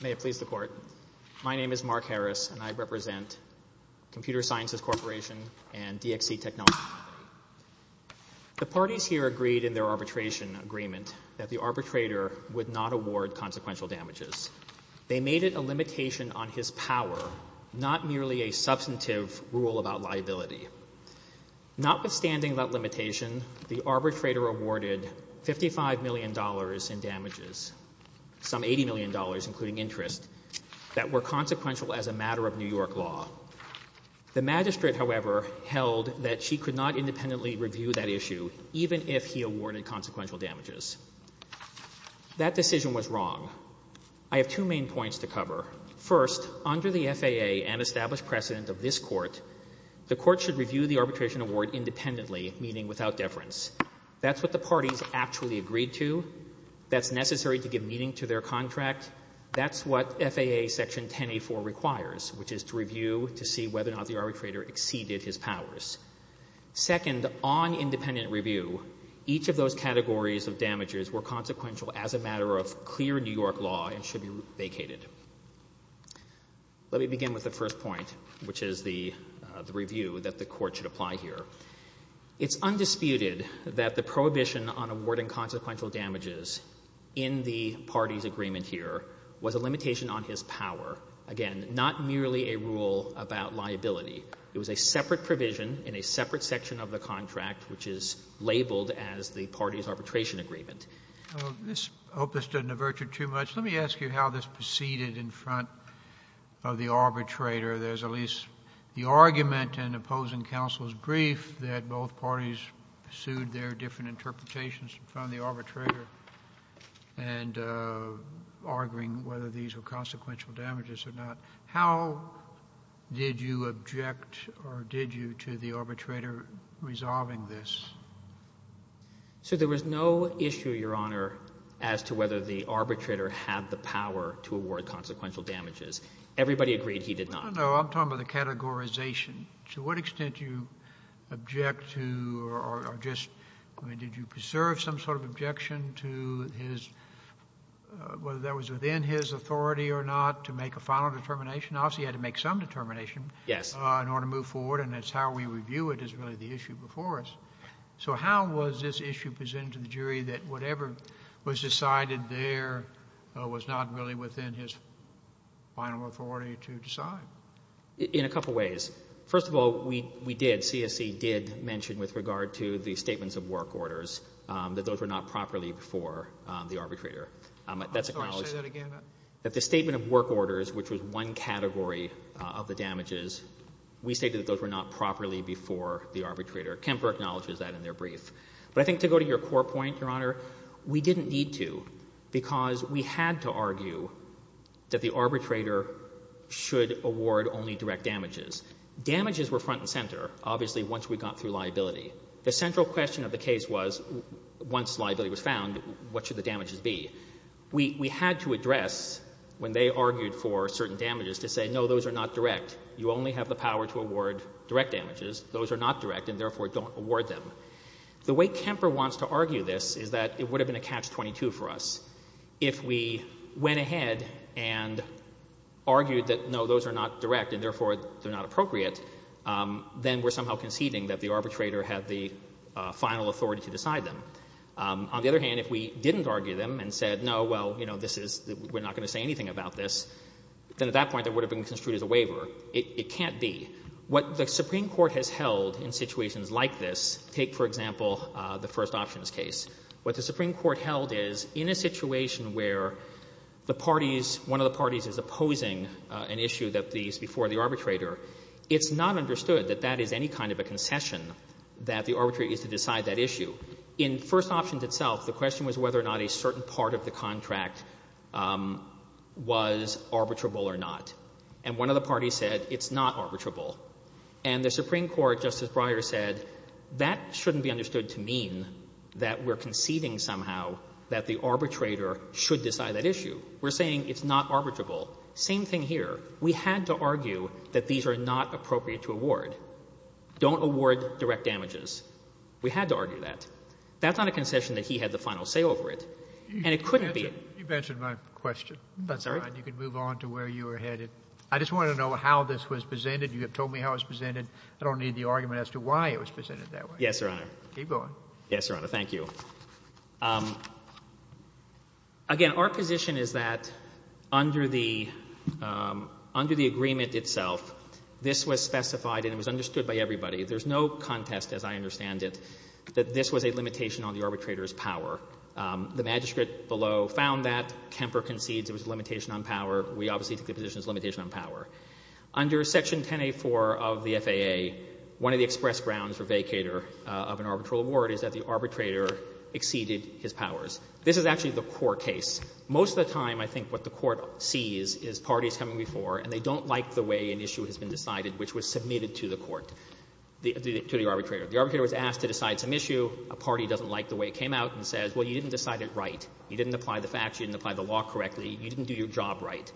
May it please the Court. My name is Mark Harris, and I represent Computer Sciences Corporation and DXC Technologies. The parties here agreed in their arbitration agreement that the arbitrator would not award consequential damages. They made it a limitation on his power, not merely a substantive rule about liability. Notwithstanding that limitation, the arbitrator awarded $55 million in damages, some $80 million, including interest, that were consequential as a matter of New York law. The magistrate, however, held that she could not independently review that issue, even if he awarded consequential damages. That decision was wrong. I have two main points to cover. First, under the FAA and established precedent of this Court, the Court should review the arbitration award independently, meaning without deference. That's what the parties actually agreed to. That's necessary to give meaning to their contract. That's what FAA Section 10A4 requires, which is to review to see whether or not the arbitrator exceeded his powers. Second, on independent review, each of those categories of damages were consequential as a matter of clear New York law and should be vacated. Let me begin with the first point, which is the review that the Court should prohibition on awarding consequential damages in the parties' agreement here was a limitation on his power. Again, not merely a rule about liability. It was a separate provision in a separate section of the contract, which is labeled as the parties' arbitration agreement. This, I hope this doesn't avert you too much. Let me ask you how this proceeded in front of the arbitrator. There's at least the argument in opposing counsel's that both parties sued their different interpretations in front of the arbitrator and arguing whether these were consequential damages or not. How did you object or did you to the arbitrator resolving this? So there was no issue, Your Honor, as to whether the arbitrator had the power to award consequential damages. Everybody agreed he did not. No, I'm talking about the categorization. To what extent do you object to or just did you preserve some sort of objection to his, whether that was within his authority or not, to make a final determination? Obviously, he had to make some determination in order to move forward, and that's how we review it is really the issue before us. So how was this issue presented to the jury that whatever was decided there was not really within his final authority to decide? In a couple of ways. First of all, we did, CSC did mention with regard to the statements of work orders that those were not properly before the arbitrator. That's acknowledged I'm sorry, say that again. That the statement of work orders, which was one category of the damages, we stated that those were not properly before the arbitrator. Kemper acknowledges that in their brief. But I think to go to your core point, Your Honor, we didn't need to because we had to argue that the arbitrator should award only direct damages. Damages were front and center, obviously, once we got through liability. The central question of the case was once liability was found, what should the damages be? We had to address when they argued for certain damages to say no, those are not direct. You only have the power to award direct damages. Those are not direct and therefore don't award them. The way Kemper wants to argue this is that it would have been a catch-22 for us. If we went ahead and argued that no, those are not direct and therefore they're not appropriate, then we're somehow conceding that the arbitrator had the final authority to decide them. On the other hand, if we didn't argue them and said no, well, you know, this is, we're not going to say anything about this, then at that point it would have been construed as a waiver. It can't be. What the Supreme Court has held in situations like this, take, for example, the first options case. What the Supreme Court held is in a situation where the parties, one of the parties is opposing an issue that is before the arbitrator, it's not understood that that is any kind of a concession that the arbitrator gets to decide that issue. In first options itself, the question was whether or not a certain part of the contract was arbitrable or not. And one of the parties said it's not arbitrable. And the Supreme Court, Justice Breyer, said that shouldn't be understood to mean that we're conceding somehow that the arbitrator should decide that issue. We're saying it's not arbitrable. Same thing here. We had to argue that these are not appropriate to award. Don't award direct damages. We had to argue that. That's not a concession that he had the final say over it. And it couldn't be. You've answered my question. That's all right. You can move on to where you were headed. I just wanted to know how this was presented. You have told me how it was presented. I don't need the argument as to why it was presented that way. Yes, Your Honor. Keep going. Yes, Your Honor. Thank you. Again, our position is that under the agreement itself, this was specified and it was understood by everybody. There's no contest, as I understand it, that this was a limitation on the arbitrator's power. The magistrate below found that. Kemper concedes it was a limitation on power. We obviously think the position is a limitation on power. Under Section 10A4 of the FAA, one of the express grounds for vacator of an arbitral award is that the arbitrator exceeded his powers. This is actually the core case. Most of the time, I think what the Court sees is parties coming before and they don't like the way an issue has been decided which was submitted to the Court, to the arbitrator. The arbitrator was asked to decide some issue. A party doesn't like the way it came out and says, well, you didn't decide it right. You didn't apply the facts. You didn't apply the law correctly. You didn't do your job right.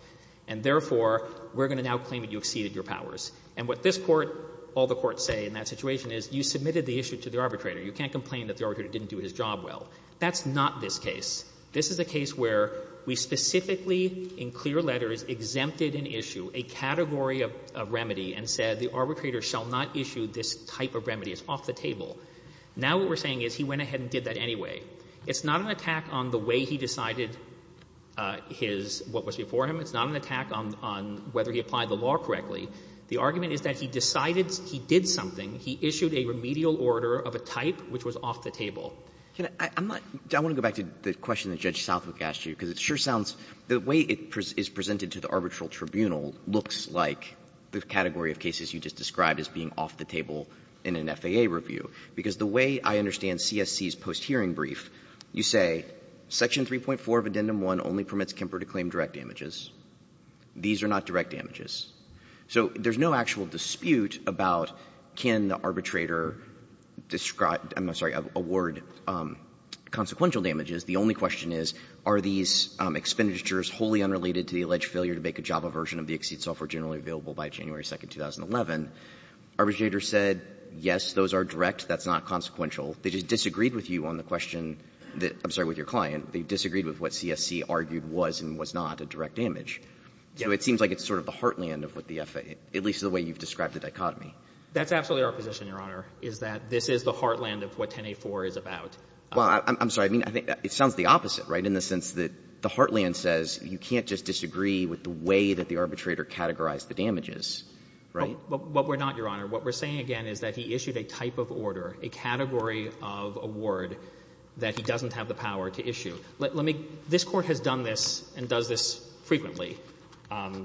And therefore, we're going to now claim that you exceeded your powers. And what this Court, all the courts say in that situation is you submitted the issue to the arbitrator. You can't complain that the arbitrator didn't do his job well. That's not this case. This is a case where we specifically in clear letters exempted an issue, a category of remedy, and said the arbitrator shall not issue this type of remedy. It's off the table. Now what we're saying is he went ahead and did that anyway. It's not an attack on the way he decided his — what was before him. It's not an attack on whether he applied the law correctly. The argument is that he decided he did something. He issued a remedial order of a type which was off the table. Can I — I'm not — I want to go back to the question that Judge Southwick asked you, because it sure sounds — the way it is presented to the arbitral tribunal looks like the category of cases you just described as being off the table in an FAA review. Because the way I understand CSC's post-hearing brief, you say, Section 3.4 of Addendum 1 only permits Kemper to claim direct damages. These are not direct damages. So there's no actual dispute about can the arbitrator describe — I'm sorry, award consequential damages. The only question is, are these expenditures generally available by January 2nd, 2011? Arbitrator said, yes, those are direct. That's not consequential. They just disagreed with you on the question that — I'm sorry, with your client. They disagreed with what CSC argued was and was not a direct damage. So it seems like it's sort of the heartland of what the FAA — at least the way you've described the dichotomy. That's absolutely our position, Your Honor, is that this is the heartland of what 10A4 is about. Well, I'm sorry. I mean, it sounds the opposite, right, in the sense that the heartland says you can't just disagree with the way that the arbitrator categorized the damages, right? Well, we're not, Your Honor. What we're saying, again, is that he issued a type of order, a category of award that he doesn't have the power to issue. Let me — this Court has done this and does this frequently.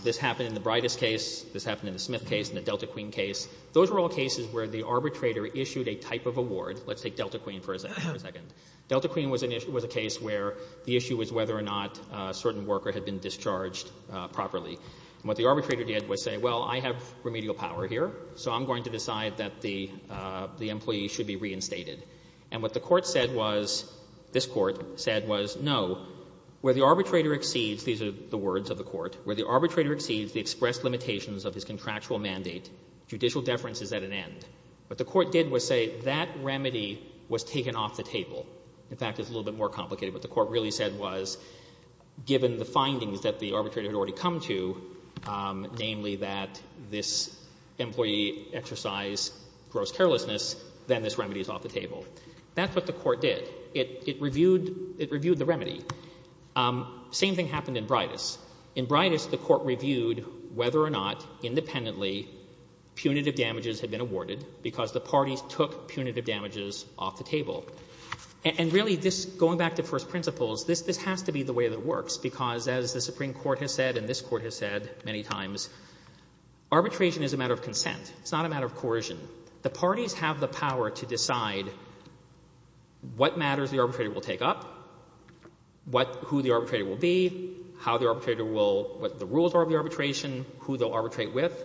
This happened in the Bridest case. This happened in the Smith case, in the Delta Queen case. Those were all cases where the arbitrator issued a type of award. Let's take Delta Queen for a second. Delta Queen was a case where the issue was whether or not a certain worker had been discharged properly. And what the arbitrator did was say, well, I have remedial power here, so I'm going to decide that the employee should be reinstated. And what the Court said was — this Court said was, no, where the arbitrator exceeds — these are the words of the Court — where the arbitrator exceeds the expressed limitations of his contractual mandate, judicial deference is at an end. What the Court did was say that remedy was taken off the table. In fact, it's a little bit more complicated. What the Court really said was, given the findings that the arbitrator had already come to, namely that this employee exercised gross carelessness, then this remedy is off the table. That's what the Court did. It — it reviewed — it reviewed the remedy. Same thing happened in Bridest. In Bridest, the Court reviewed whether or not independently punitive damages had been awarded, because the parties took punitive damages off the table. And really, this — going back to first principles, this — this has to be the way that it works, because as the Supreme Court has said and this Court has said many times, arbitration is a matter of consent. It's not a matter of coercion. The parties have the power to decide what matters the arbitrator will take up, what — who the arbitrator will be, how the arbitrator will — what the rules are of the arbitration, who they'll arbitrate with.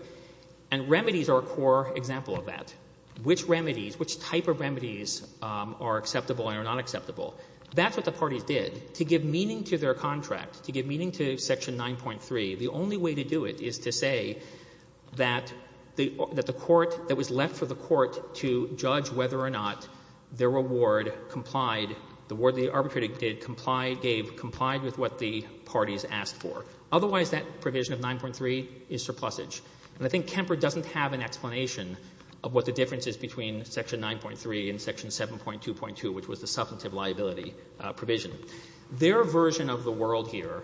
And remedies are a core example of that. Which remedies, which type of remedies are acceptable and are not acceptable, that's what the parties did. To give meaning to their contract, to give meaning to Section 9.3, the only way to do it is to say that the — that the Court — that it was left for the Court to judge whether or not their reward complied — the reward the arbitrator did comply — gave complied with what the parties asked for. Otherwise, that provision of 9.3 is surplusage. And I think Kemper doesn't have an explanation of what the difference is between Section 9.3 and Section 7.2.2, which was the substantive liability provision. Their version of the world here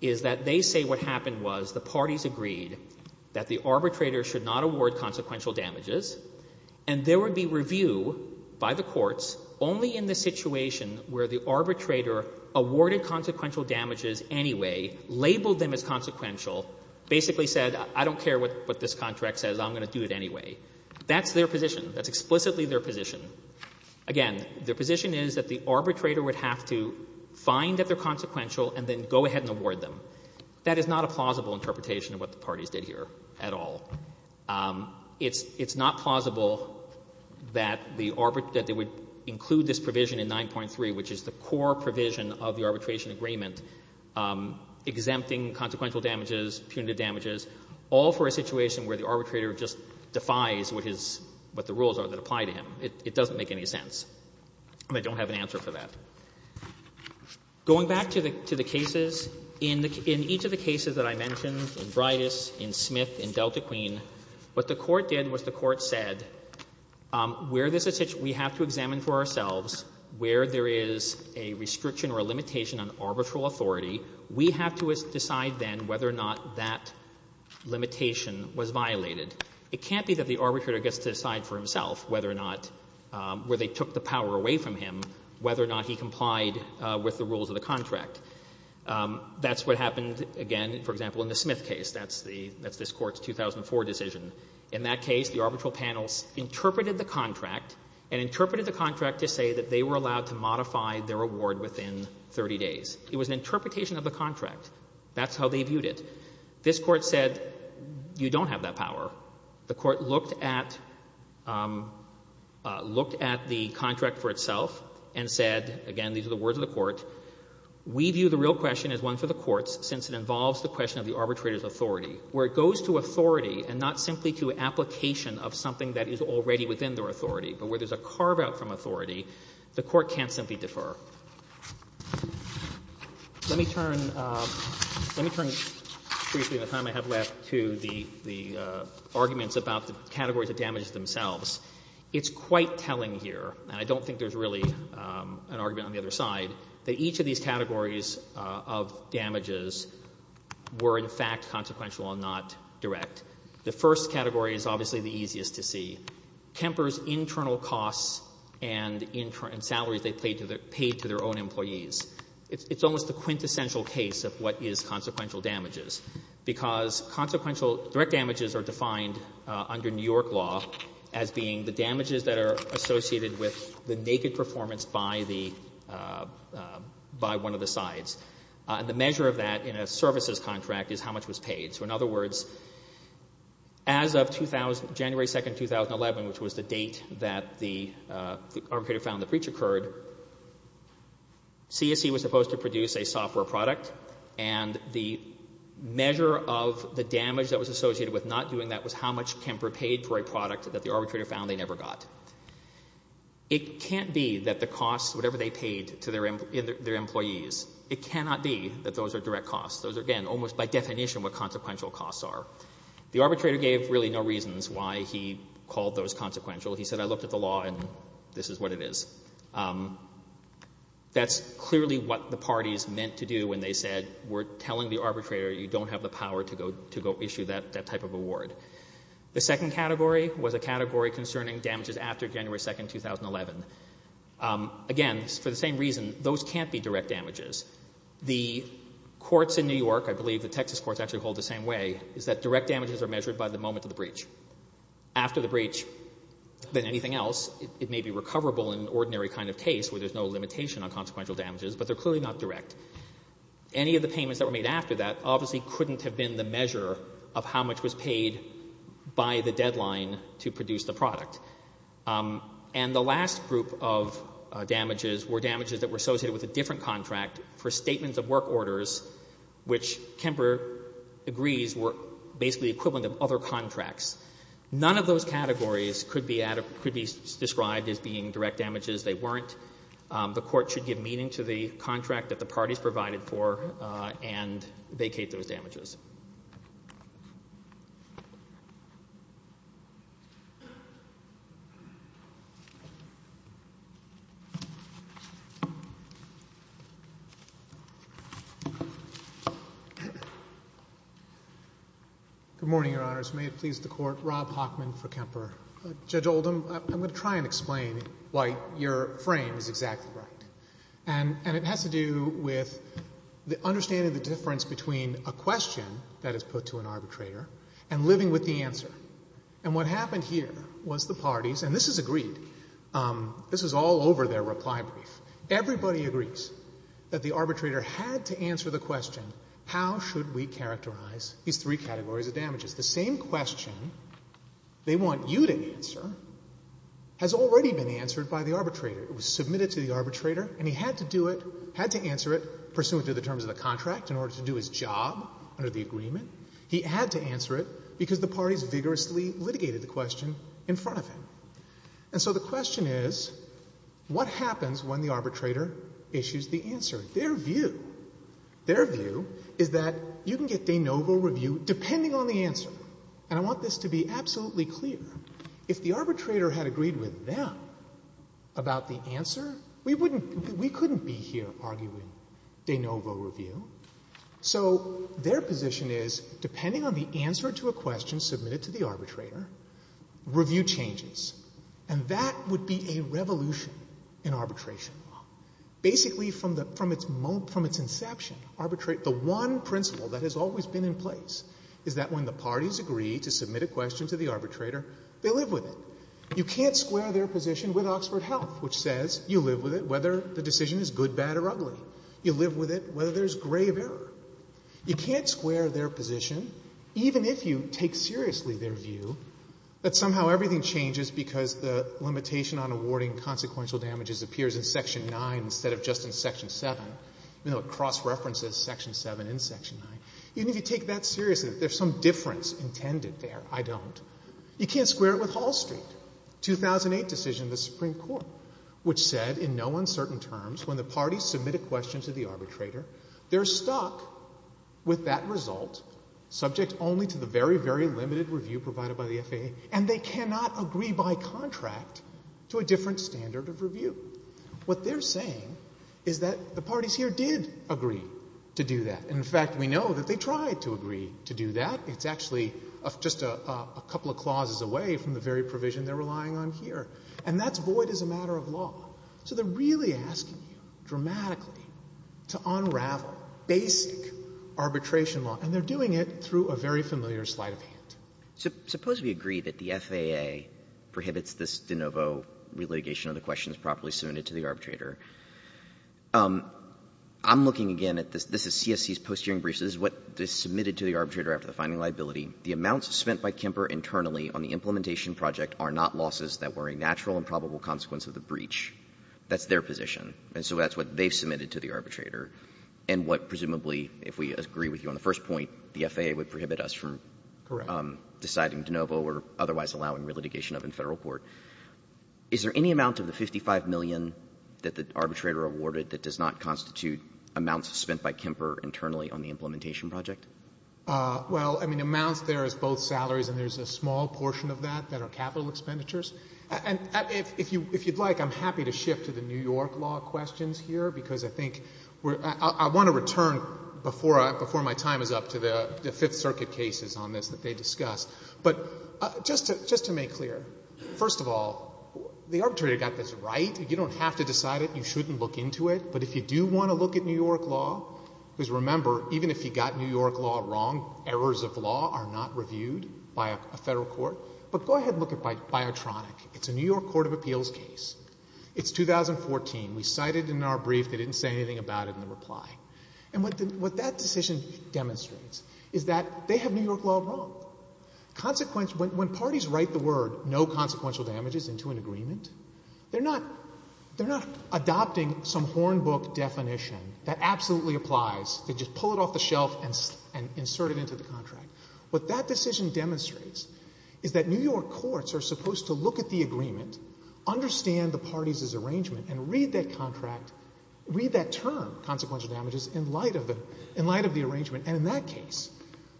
is that they say what happened was the parties agreed that the arbitrator should not award consequential damages, and there would be review by the courts only in the situation where the arbitrator awarded consequential damages anyway, labeled them as consequential, basically said, I don't care what this contract says, I'm going to do it anyway. That's their position. That's explicitly their position. Again, their position is that the arbitrator would have to find that they're consequential and then go ahead and award them. That is not a plausible interpretation of what the parties did here at all. It's — it's not plausible that the — that they would include this provision in 9.3, which is the core provision of the arbitration agreement, exempting consequential damages, punitive damages, all for a situation where the arbitrator just defies what his — what the rules are that apply to him. It doesn't make any sense. And I don't have an answer for that. Going back to the — to the cases, in each of the cases that I mentioned, in Bridas, in Smith, in Delta Queen, what the Court did was the Court said, where this — we have to examine for ourselves where there is a restriction or a limitation on arbitral authority. We have to decide then whether or not that limitation was violated. It can't be that the arbitrator gets to decide for himself whether or not — where they took the power away from him, whether or not he complied with the rules of the contract. That's what happened, again, for example, in the Smith case. That's the — that's this Court's 2004 decision. In that case, the arbitral panels interpreted the contract and interpreted the contract to say that they were allowed to modify their award within 30 days. It was an interpretation of the contract. That's how they viewed it. This Court said, you don't have that power. The Court looked at — looked at the contract for itself and said — again, these are the words of the Court — we view the real question as one for the courts, since it involves the question of the arbitrator's authority, where it goes to authority and not simply to application of something that is already within their authority. But where there's a carve-out from authority, the Court can't simply defer. Let me turn — let me turn briefly, in the time I have left, to the — the arguments about the categories of damages themselves. It's quite telling here — and I don't think there's really an argument on the other side — that each of these categories of damages were, in fact, consequential and not direct. The first category is obviously the easiest to see. Kemper's internal costs and salaries they paid to their own employees. It's almost a quintessential case of what is consequential damages, because consequential — direct damages are defined under New York law as being the damages that are associated with the naked performance by the — by one of the sides. And the measure of that in a services contract is how much was paid. So, in other words, as of 2000 — January 2, 2011, which was the date that the arbitrator found the breach occurred, CSC was supposed to produce a software product, and the measure of the damage that was associated with not doing that was how much Kemper paid for a product that the arbitrator found they never got. It can't be that the costs, whatever they paid to their employees — it cannot be that those are direct costs. Those are, again, almost by definition what consequential costs are. The arbitrator gave really no reasons why he called those consequential. He said, I looked at the law, and this is what it is. That's clearly what the parties meant to do when they said, we're telling the arbitrator you don't have the power to go issue that type of award. The second category was a category concerning damages after January 2, 2011. Again, for the same reason, those can't be direct damages. The courts in New York — I believe the Texas courts actually hold the same way — is that direct damages are measured by the moment of the breach. After the breach, than anything else, it may be recoverable in ordinary kind of case where there's no limitation on consequential damages, but they're clearly not direct. Any of the payments that were made after that obviously couldn't have been the measure of how much was paid by the deadline to produce the product. And the last group of damages were damages that were associated with a different contract for statements of work orders, which Kemper agrees were basically equivalent of other contracts. None of those categories could be described as being direct damages. They weren't. The court should give meaning to the contract that the parties provided for and vacate those damages. Good morning, Your Honors. May it please the Court, Rob Hockman for Kemper. Judge Oldham, I'm going to try and explain why your frame is exactly right. And it has to do with the understanding of the difference between a question that is put to an arbitrator and living with the answer. And what happened here was the parties, and this is agreed, this is all over their reply brief, everybody agrees that the arbitrator had to answer the question, how should we characterize these three categories of damages? The same question they want you to answer has already been answered by the arbitrator. It was submitted to the arbitrator, and he had to do it, had to answer it pursuant to the terms of the contract in order to do his job under the agreement. He had to answer it because the parties vigorously litigated the question in front of him. And so the question is, what happens when the arbitrator issues the answer? Their view, their view is that you can get de novo review depending on the answer. And I want this to be absolutely clear. If the arbitrator had agreed with them about the answer, we wouldn't, we couldn't be here arguing de novo review. So their position is, depending on the answer to a question submitted to the arbitrator, review changes. And that would be a revolution in arbitration law. Basically from its inception, the one principle that has always been in place is that when the parties agree to submit a question to the arbitrator, they live with it. You can't square their position with Oxford Health, which says you live with it whether the decision is good, bad, or ugly. You live with it whether there's grave error. You can't square their position even if you take seriously their view that somehow everything changes because the limitation on awarding consequential damages appears in Section 9 instead of just in Section 7. You know, it cross-references Section 7 and Section 9. Even if you take that seriously, there's some difference intended there. I don't. You can't square it with Hall Street, 2008 decision of the Supreme Court, which said in no uncertain terms when the parties submit a question to the arbitrator, they're stuck with that result, subject only to the very, very limited review provided by the FAA, and they cannot agree by contract to a different standard of review. What they're saying is that the parties here did agree to do that. In fact, we know that they tried to agree to do that. It's actually just a couple of clauses away from the very provision they're relying on here. And that's void as a matter of law. So they're really asking you dramatically to unravel basic arbitration law, and they're doing it through a very familiar sleight of hand. So suppose we agree that the FAA prohibits this de novo relitigation of the questions properly submitted to the arbitrator. I'm looking again at this. This is CSC's post-hearing briefs. This is what is submitted to the arbitrator after the finding of liability. That's their position. And so that's what they've submitted to the arbitrator and what presumably, if we agree with you on the first point, the FAA would prohibit us from deciding de novo or otherwise allowing relitigation of in Federal court. Is there any amount of the $55 million that the arbitrator awarded that does not constitute amounts spent by Kemper internally on the implementation project? Well, I mean, amounts there is both salaries and there's a small portion of that that are capital expenditures. And if you'd like, I'm happy to shift to the New York law questions here because I think we're — I want to return before my time is up to the Fifth Circuit cases on this that they discussed. But just to make clear, first of all, the arbitrator got this right. You don't have to decide it. You shouldn't look into it. But if you do want to look at New York law, because remember, even if you got New York law wrong, errors of law are not reviewed by a Federal court. But go ahead and look at Biotronic. It's a New York court of appeals case. It's 2014. We cited it in our brief. They didn't say anything about it in the reply. And what that decision demonstrates is that they have New York law wrong. Consequence — when parties write the word no consequential damages into an agreement, they're not — they're not adopting some hornbook definition that absolutely applies. They just pull it off the shelf and insert it into the contract. What that decision demonstrates is that New York courts are supposed to look at the agreement, understand the parties' arrangement, and read that contract — read that term, consequential damages, in light of the — in light of the arrangement. And in that case,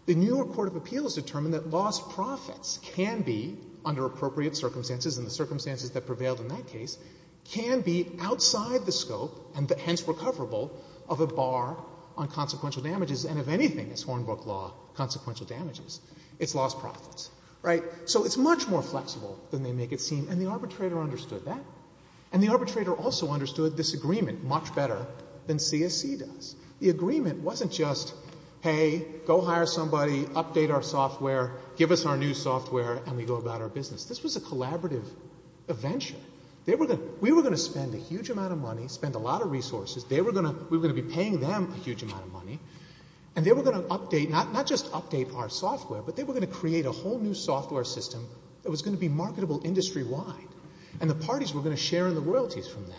the New York court of appeals determined that lost profits can be, under appropriate circumstances and the circumstances that prevailed in that case, can be outside the scope and hence recoverable of a bar on consequential damages, and if anything, as hornbook law, consequential damages, it's lost profits. Right? So it's much more flexible than they make it seem. And the arbitrator understood that. And the arbitrator also understood this agreement much better than CSC does. The agreement wasn't just, hey, go hire somebody, update our software, give us our new software, and we go about our business. This was a collaborative venture. They were going — we were going to spend a huge amount of money, spend a lot of resources. They were going to — we were going to be paying them a huge amount of money. And they were going to update — not just update our software, but they were going to create a whole new software system that was going to be marketable industry-wide. And the parties were going to share in the royalties from that.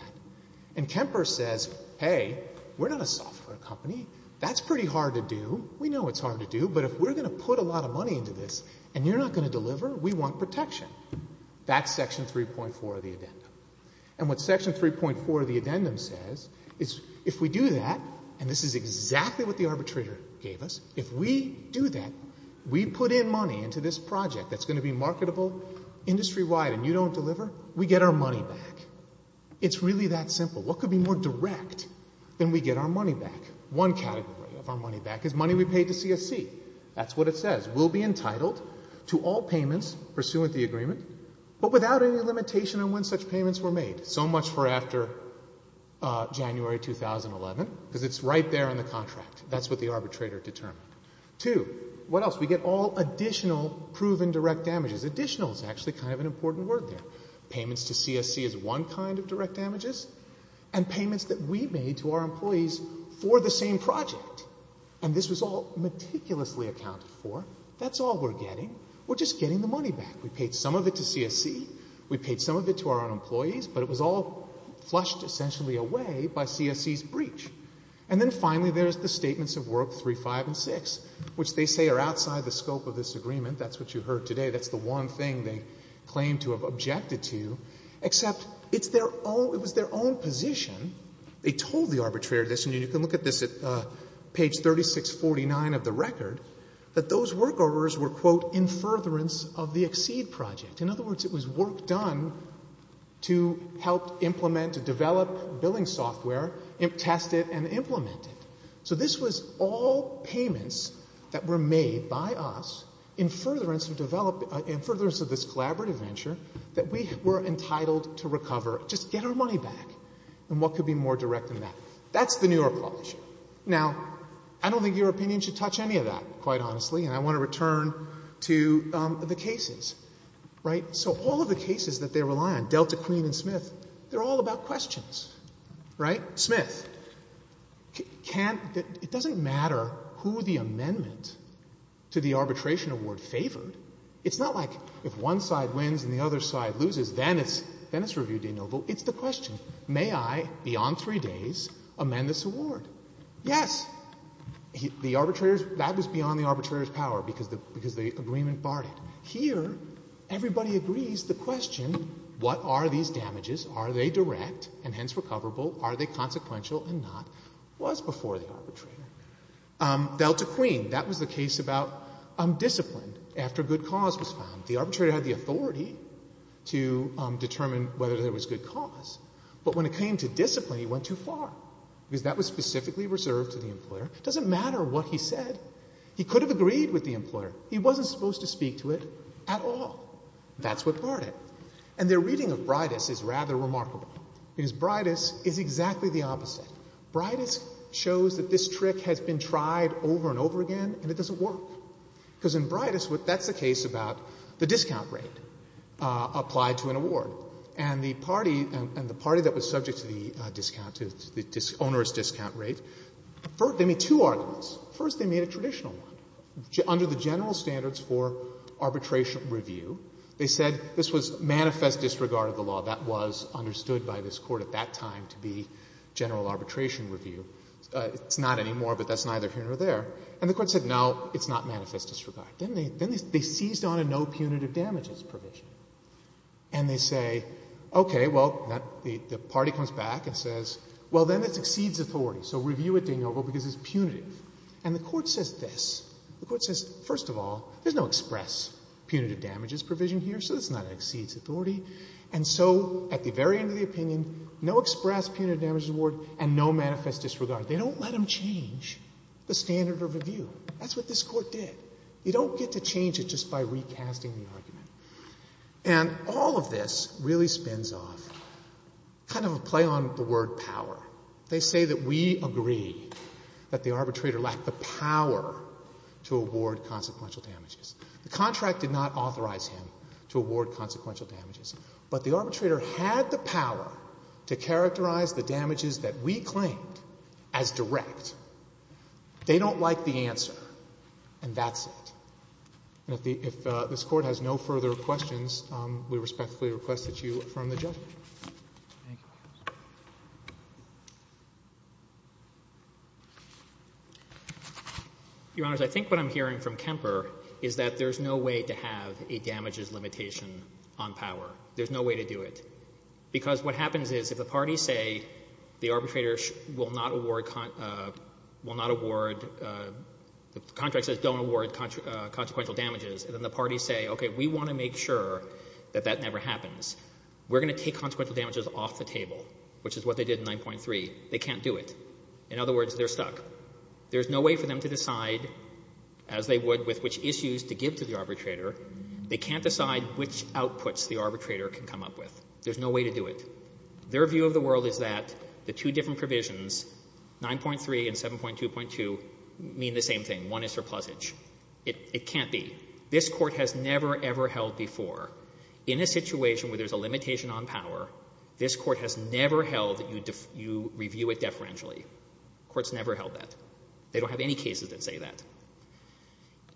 And Kemper says, hey, we're not a software company. That's pretty hard to do. We know it's hard to do. But if we're going to put a lot of money into this and you're not going deliver, we want protection. That's section 3.4 of the addendum. And what section 3.4 of the addendum says is if we do that — and this is exactly what the arbitrator gave us — if we do that, we put in money into this project that's going to be marketable industry-wide and you don't deliver, we get our money back. It's really that simple. What could be more direct than we get our money back? One category of our money back is money we paid to CSC. That's what it says. We'll be entitled to all payments pursuant to the agreement, but without any limitation on when such payments were made. So much for after January 2011, because it's right there in the contract. That's what the arbitrator determined. Two, what else? We get all additional proven direct damages. Additional is actually kind of an important word there. Payments to CSC is one kind of direct damages. And payments that we made to our employees for the same project. And this was all meticulously accounted for. That's all we're getting. We're just getting the money back. We paid some of it to CSC. We paid some of it to our employees. But it was all flushed essentially away by CSC's breach. And then finally there's the statements of work 3, 5, and 6, which they say are outside the scope of this agreement. That's what you heard today. That's the one thing they claim to have objected to, except it's their own — it 3649 of the record — that those work orders were, quote, in furtherance of the XSEED project. In other words, it was work done to help implement, to develop billing software, test it, and implement it. So this was all payments that were made by us in furtherance of this collaborative venture that we were entitled to recover. Just get our money back. And what could be more direct than that? That's the New York law issue. Now, I don't think your opinion should touch any of that, quite honestly. And I want to return to the cases, right? So all of the cases that they rely on, Delta, Queen, and Smith, they're all about questions, right? Smith can't — it doesn't matter who the amendment to the arbitration award favored. It's not like if one side wins and the other side loses, then it's review de novo. It's the question, may I, beyond three days, amend this award? Yes. The arbitrator's — that was beyond the arbitrator's power because the agreement barred it. Here, everybody agrees the question, what are these damages? Are they direct and hence recoverable? Are they consequential? And not. It was before the arbitrator. Delta, Queen, that was the case about discipline after good cause was found. The arbitrator had the authority to determine whether there was good cause. But when it came to discipline, he went too far because that was specifically reserved to the employer. It doesn't matter what he said. He could have agreed with the employer. He wasn't supposed to speak to it at all. That's what barred it. And their reading of Bridus is rather remarkable because Bridus is exactly the opposite. Bridus shows that this trick has been tried over and over again, and it doesn't work. Because in apply to an award. And the party, and the party that was subject to the discount, to the onerous discount rate, first, they made two arguments. First, they made a traditional one. Under the general standards for arbitration review, they said this was manifest disregard of the law. That was understood by this Court at that time to be general arbitration review. It's not anymore, but that's neither here nor there. And the Court said no, it's not a punitive damages provision. And they say, okay, well, the party comes back and says, well, then it exceeds authority. So review it, Daniel, because it's punitive. And the Court says this. The Court says, first of all, there's no express punitive damages provision here, so it's not an exceeds authority. And so at the very end of the opinion, no express punitive damages award and no manifest disregard. They don't let them change the standard of review. That's what this Court did. You don't get to change it just by recasting the argument. And all of this really spins off kind of a play on the word power. They say that we agree that the arbitrator lacked the power to award consequential damages. The contract did not authorize him to award consequential damages. But the arbitrator had the power to characterize the damages that we claimed as direct. They don't like the answer. And that's it. And if the — if this Court has no further questions, we respectfully request that you affirm the judgment. Thank you, Your Honor. Your Honor, I think what I'm hearing from Kemper is that there's no way to have a damages limitation on power. There's no way to do it. Because what happens is if the parties say the arbitrator will not award — will not award — the contract says don't award consequential damages, and then the parties say, okay, we want to make sure that that never happens, we're going to take consequential damages off the table, which is what they did in 9.3. They can't do it. In other words, they're stuck. There's no way for them to decide, as they would with which issues to give to the arbitrator, they can't decide which outputs the arbitrator can come up with. There's no way to do it. Their view of the world is that the two different provisions, 9.3 and 7.2.2, mean the same thing. One is surplusage. It can't be. This Court has never, ever held before, in a situation where there's a limitation on power, this Court has never held that you review it deferentially. The Court's never held that. They don't have any cases that say that.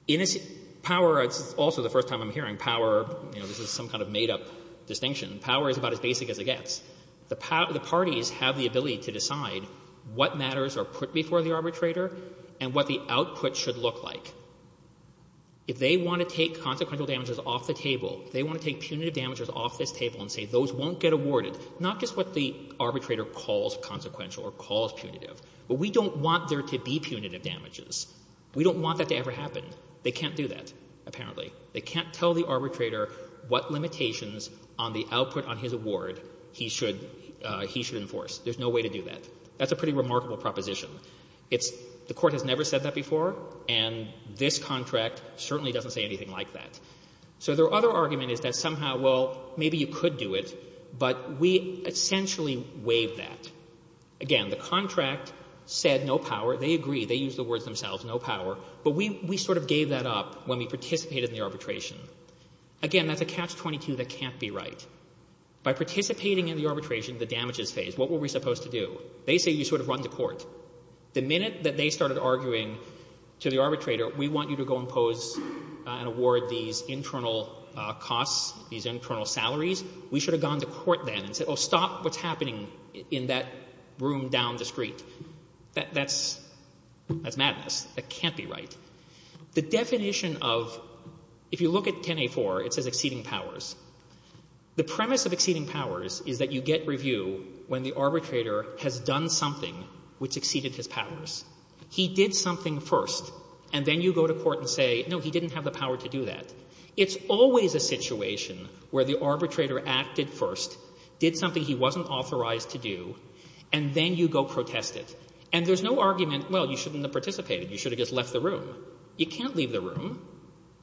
In a — power, it's also the first time I'm hearing power, you know, this is some kind of made-up distinction. Power is about as basic as it gets. The parties have the ability to decide what matters are put before the arbitrator and what the output should look like. If they want to take consequential damages off the table, if they want to take punitive damages off this table and say those won't get awarded, not just what the arbitrator calls consequential or calls punitive, but we don't want there to be punitive damages. We don't want that to ever happen. They can't do that, apparently. They can't tell the arbitrator what limitations on the output on his award he should — he should enforce. There's no way to do that. That's a pretty remarkable proposition. It's — the Court has never said that before, and this contract certainly doesn't say anything like that. So their other argument is that somehow, well, maybe you could do it, but we essentially waived that. Again, the contract said no power. They agreed. They used the words themselves, no power. But we sort of gave that up when we participated in the arbitration. Again, that's a catch-22 that can't be right. By participating in the arbitration, the damages phase, what were we supposed to do? They say you sort of run to court. The minute that they started arguing to the arbitrator, we want you to go impose and award these internal costs, these internal salaries, we should have gone to court then and said, oh, stop what's happening in that room down the street. That's — that's madness. That can't be right. The definition of — if you look at 10A4, it says exceeding powers. The premise of exceeding powers is that you get review when the arbitrator has done something which exceeded his powers. He did something first, and then you go to court and say, no, he didn't have the power to do that. It's always a situation where the arbitrator acted first, did something he wasn't authorized to do, and then you go protest it. And there's no argument, well, you shouldn't have participated. You should have just left the room. You can't leave the room.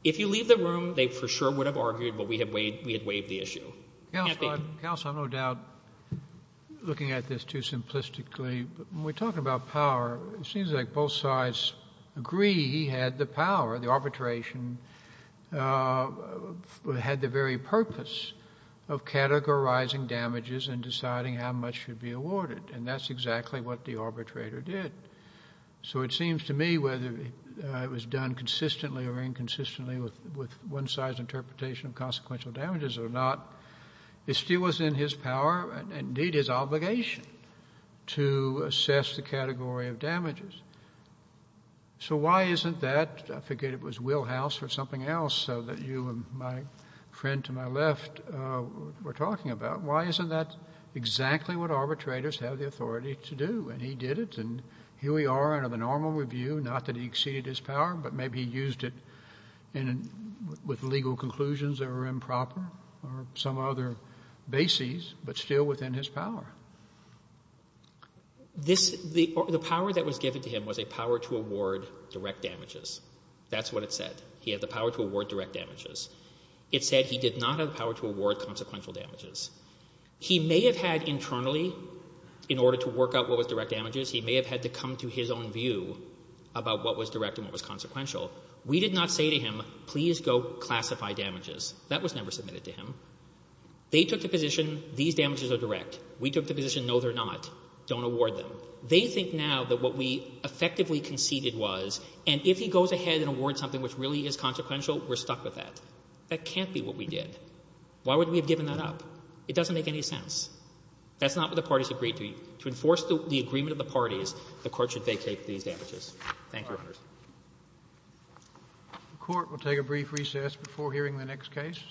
If you leave the room, they for sure would have argued, but we had waived — we had waived the issue. Kennedy. Kennedy. Counsel, I'm no doubt looking at this too simplistically, but when we're talking about power, it seems like both sides agree he had the power, the arbitration had the very purpose of categorizing damages and deciding how much should be awarded, and that's exactly what the arbitrator did. So it seems to me whether it was done consistently or inconsistently with one-size interpretation of consequential damages or not, it still was in his power, and indeed his obligation, to assess the category of damages. So why isn't that — I forget, it was Wilhouse or something else that you and my friend to my left were talking about — why isn't that exactly what arbitrators have the authority to do? And he did it, and here we are under the normal review, not that he exceeded his power, but maybe he used it in — with legal conclusions that were improper or some other basis, but still within his power. I think that what he said to him was a power to award direct damages. That's what it said. He had the power to award direct damages. It said he did not have the power to award consequential damages. He may have had internally, in order to work out what was direct damages, he may have had to come to his own view about what was direct and what was consequential. We did not say to him, please go classify damages. That was never submitted to him. They took the position, these damages are direct. We took the position, no, they're not. Don't award them. They think now that what we effectively conceded was, and if he goes ahead and awards something which really is consequential, we're stuck with that. That can't be what we did. Why would we have given that up? It doesn't make any sense. That's not what the parties agreed to. To enforce the agreement of the parties, the Court should vacate these damages. Thank you, Your Honors. The Court will take a brief recess before hearing the next case.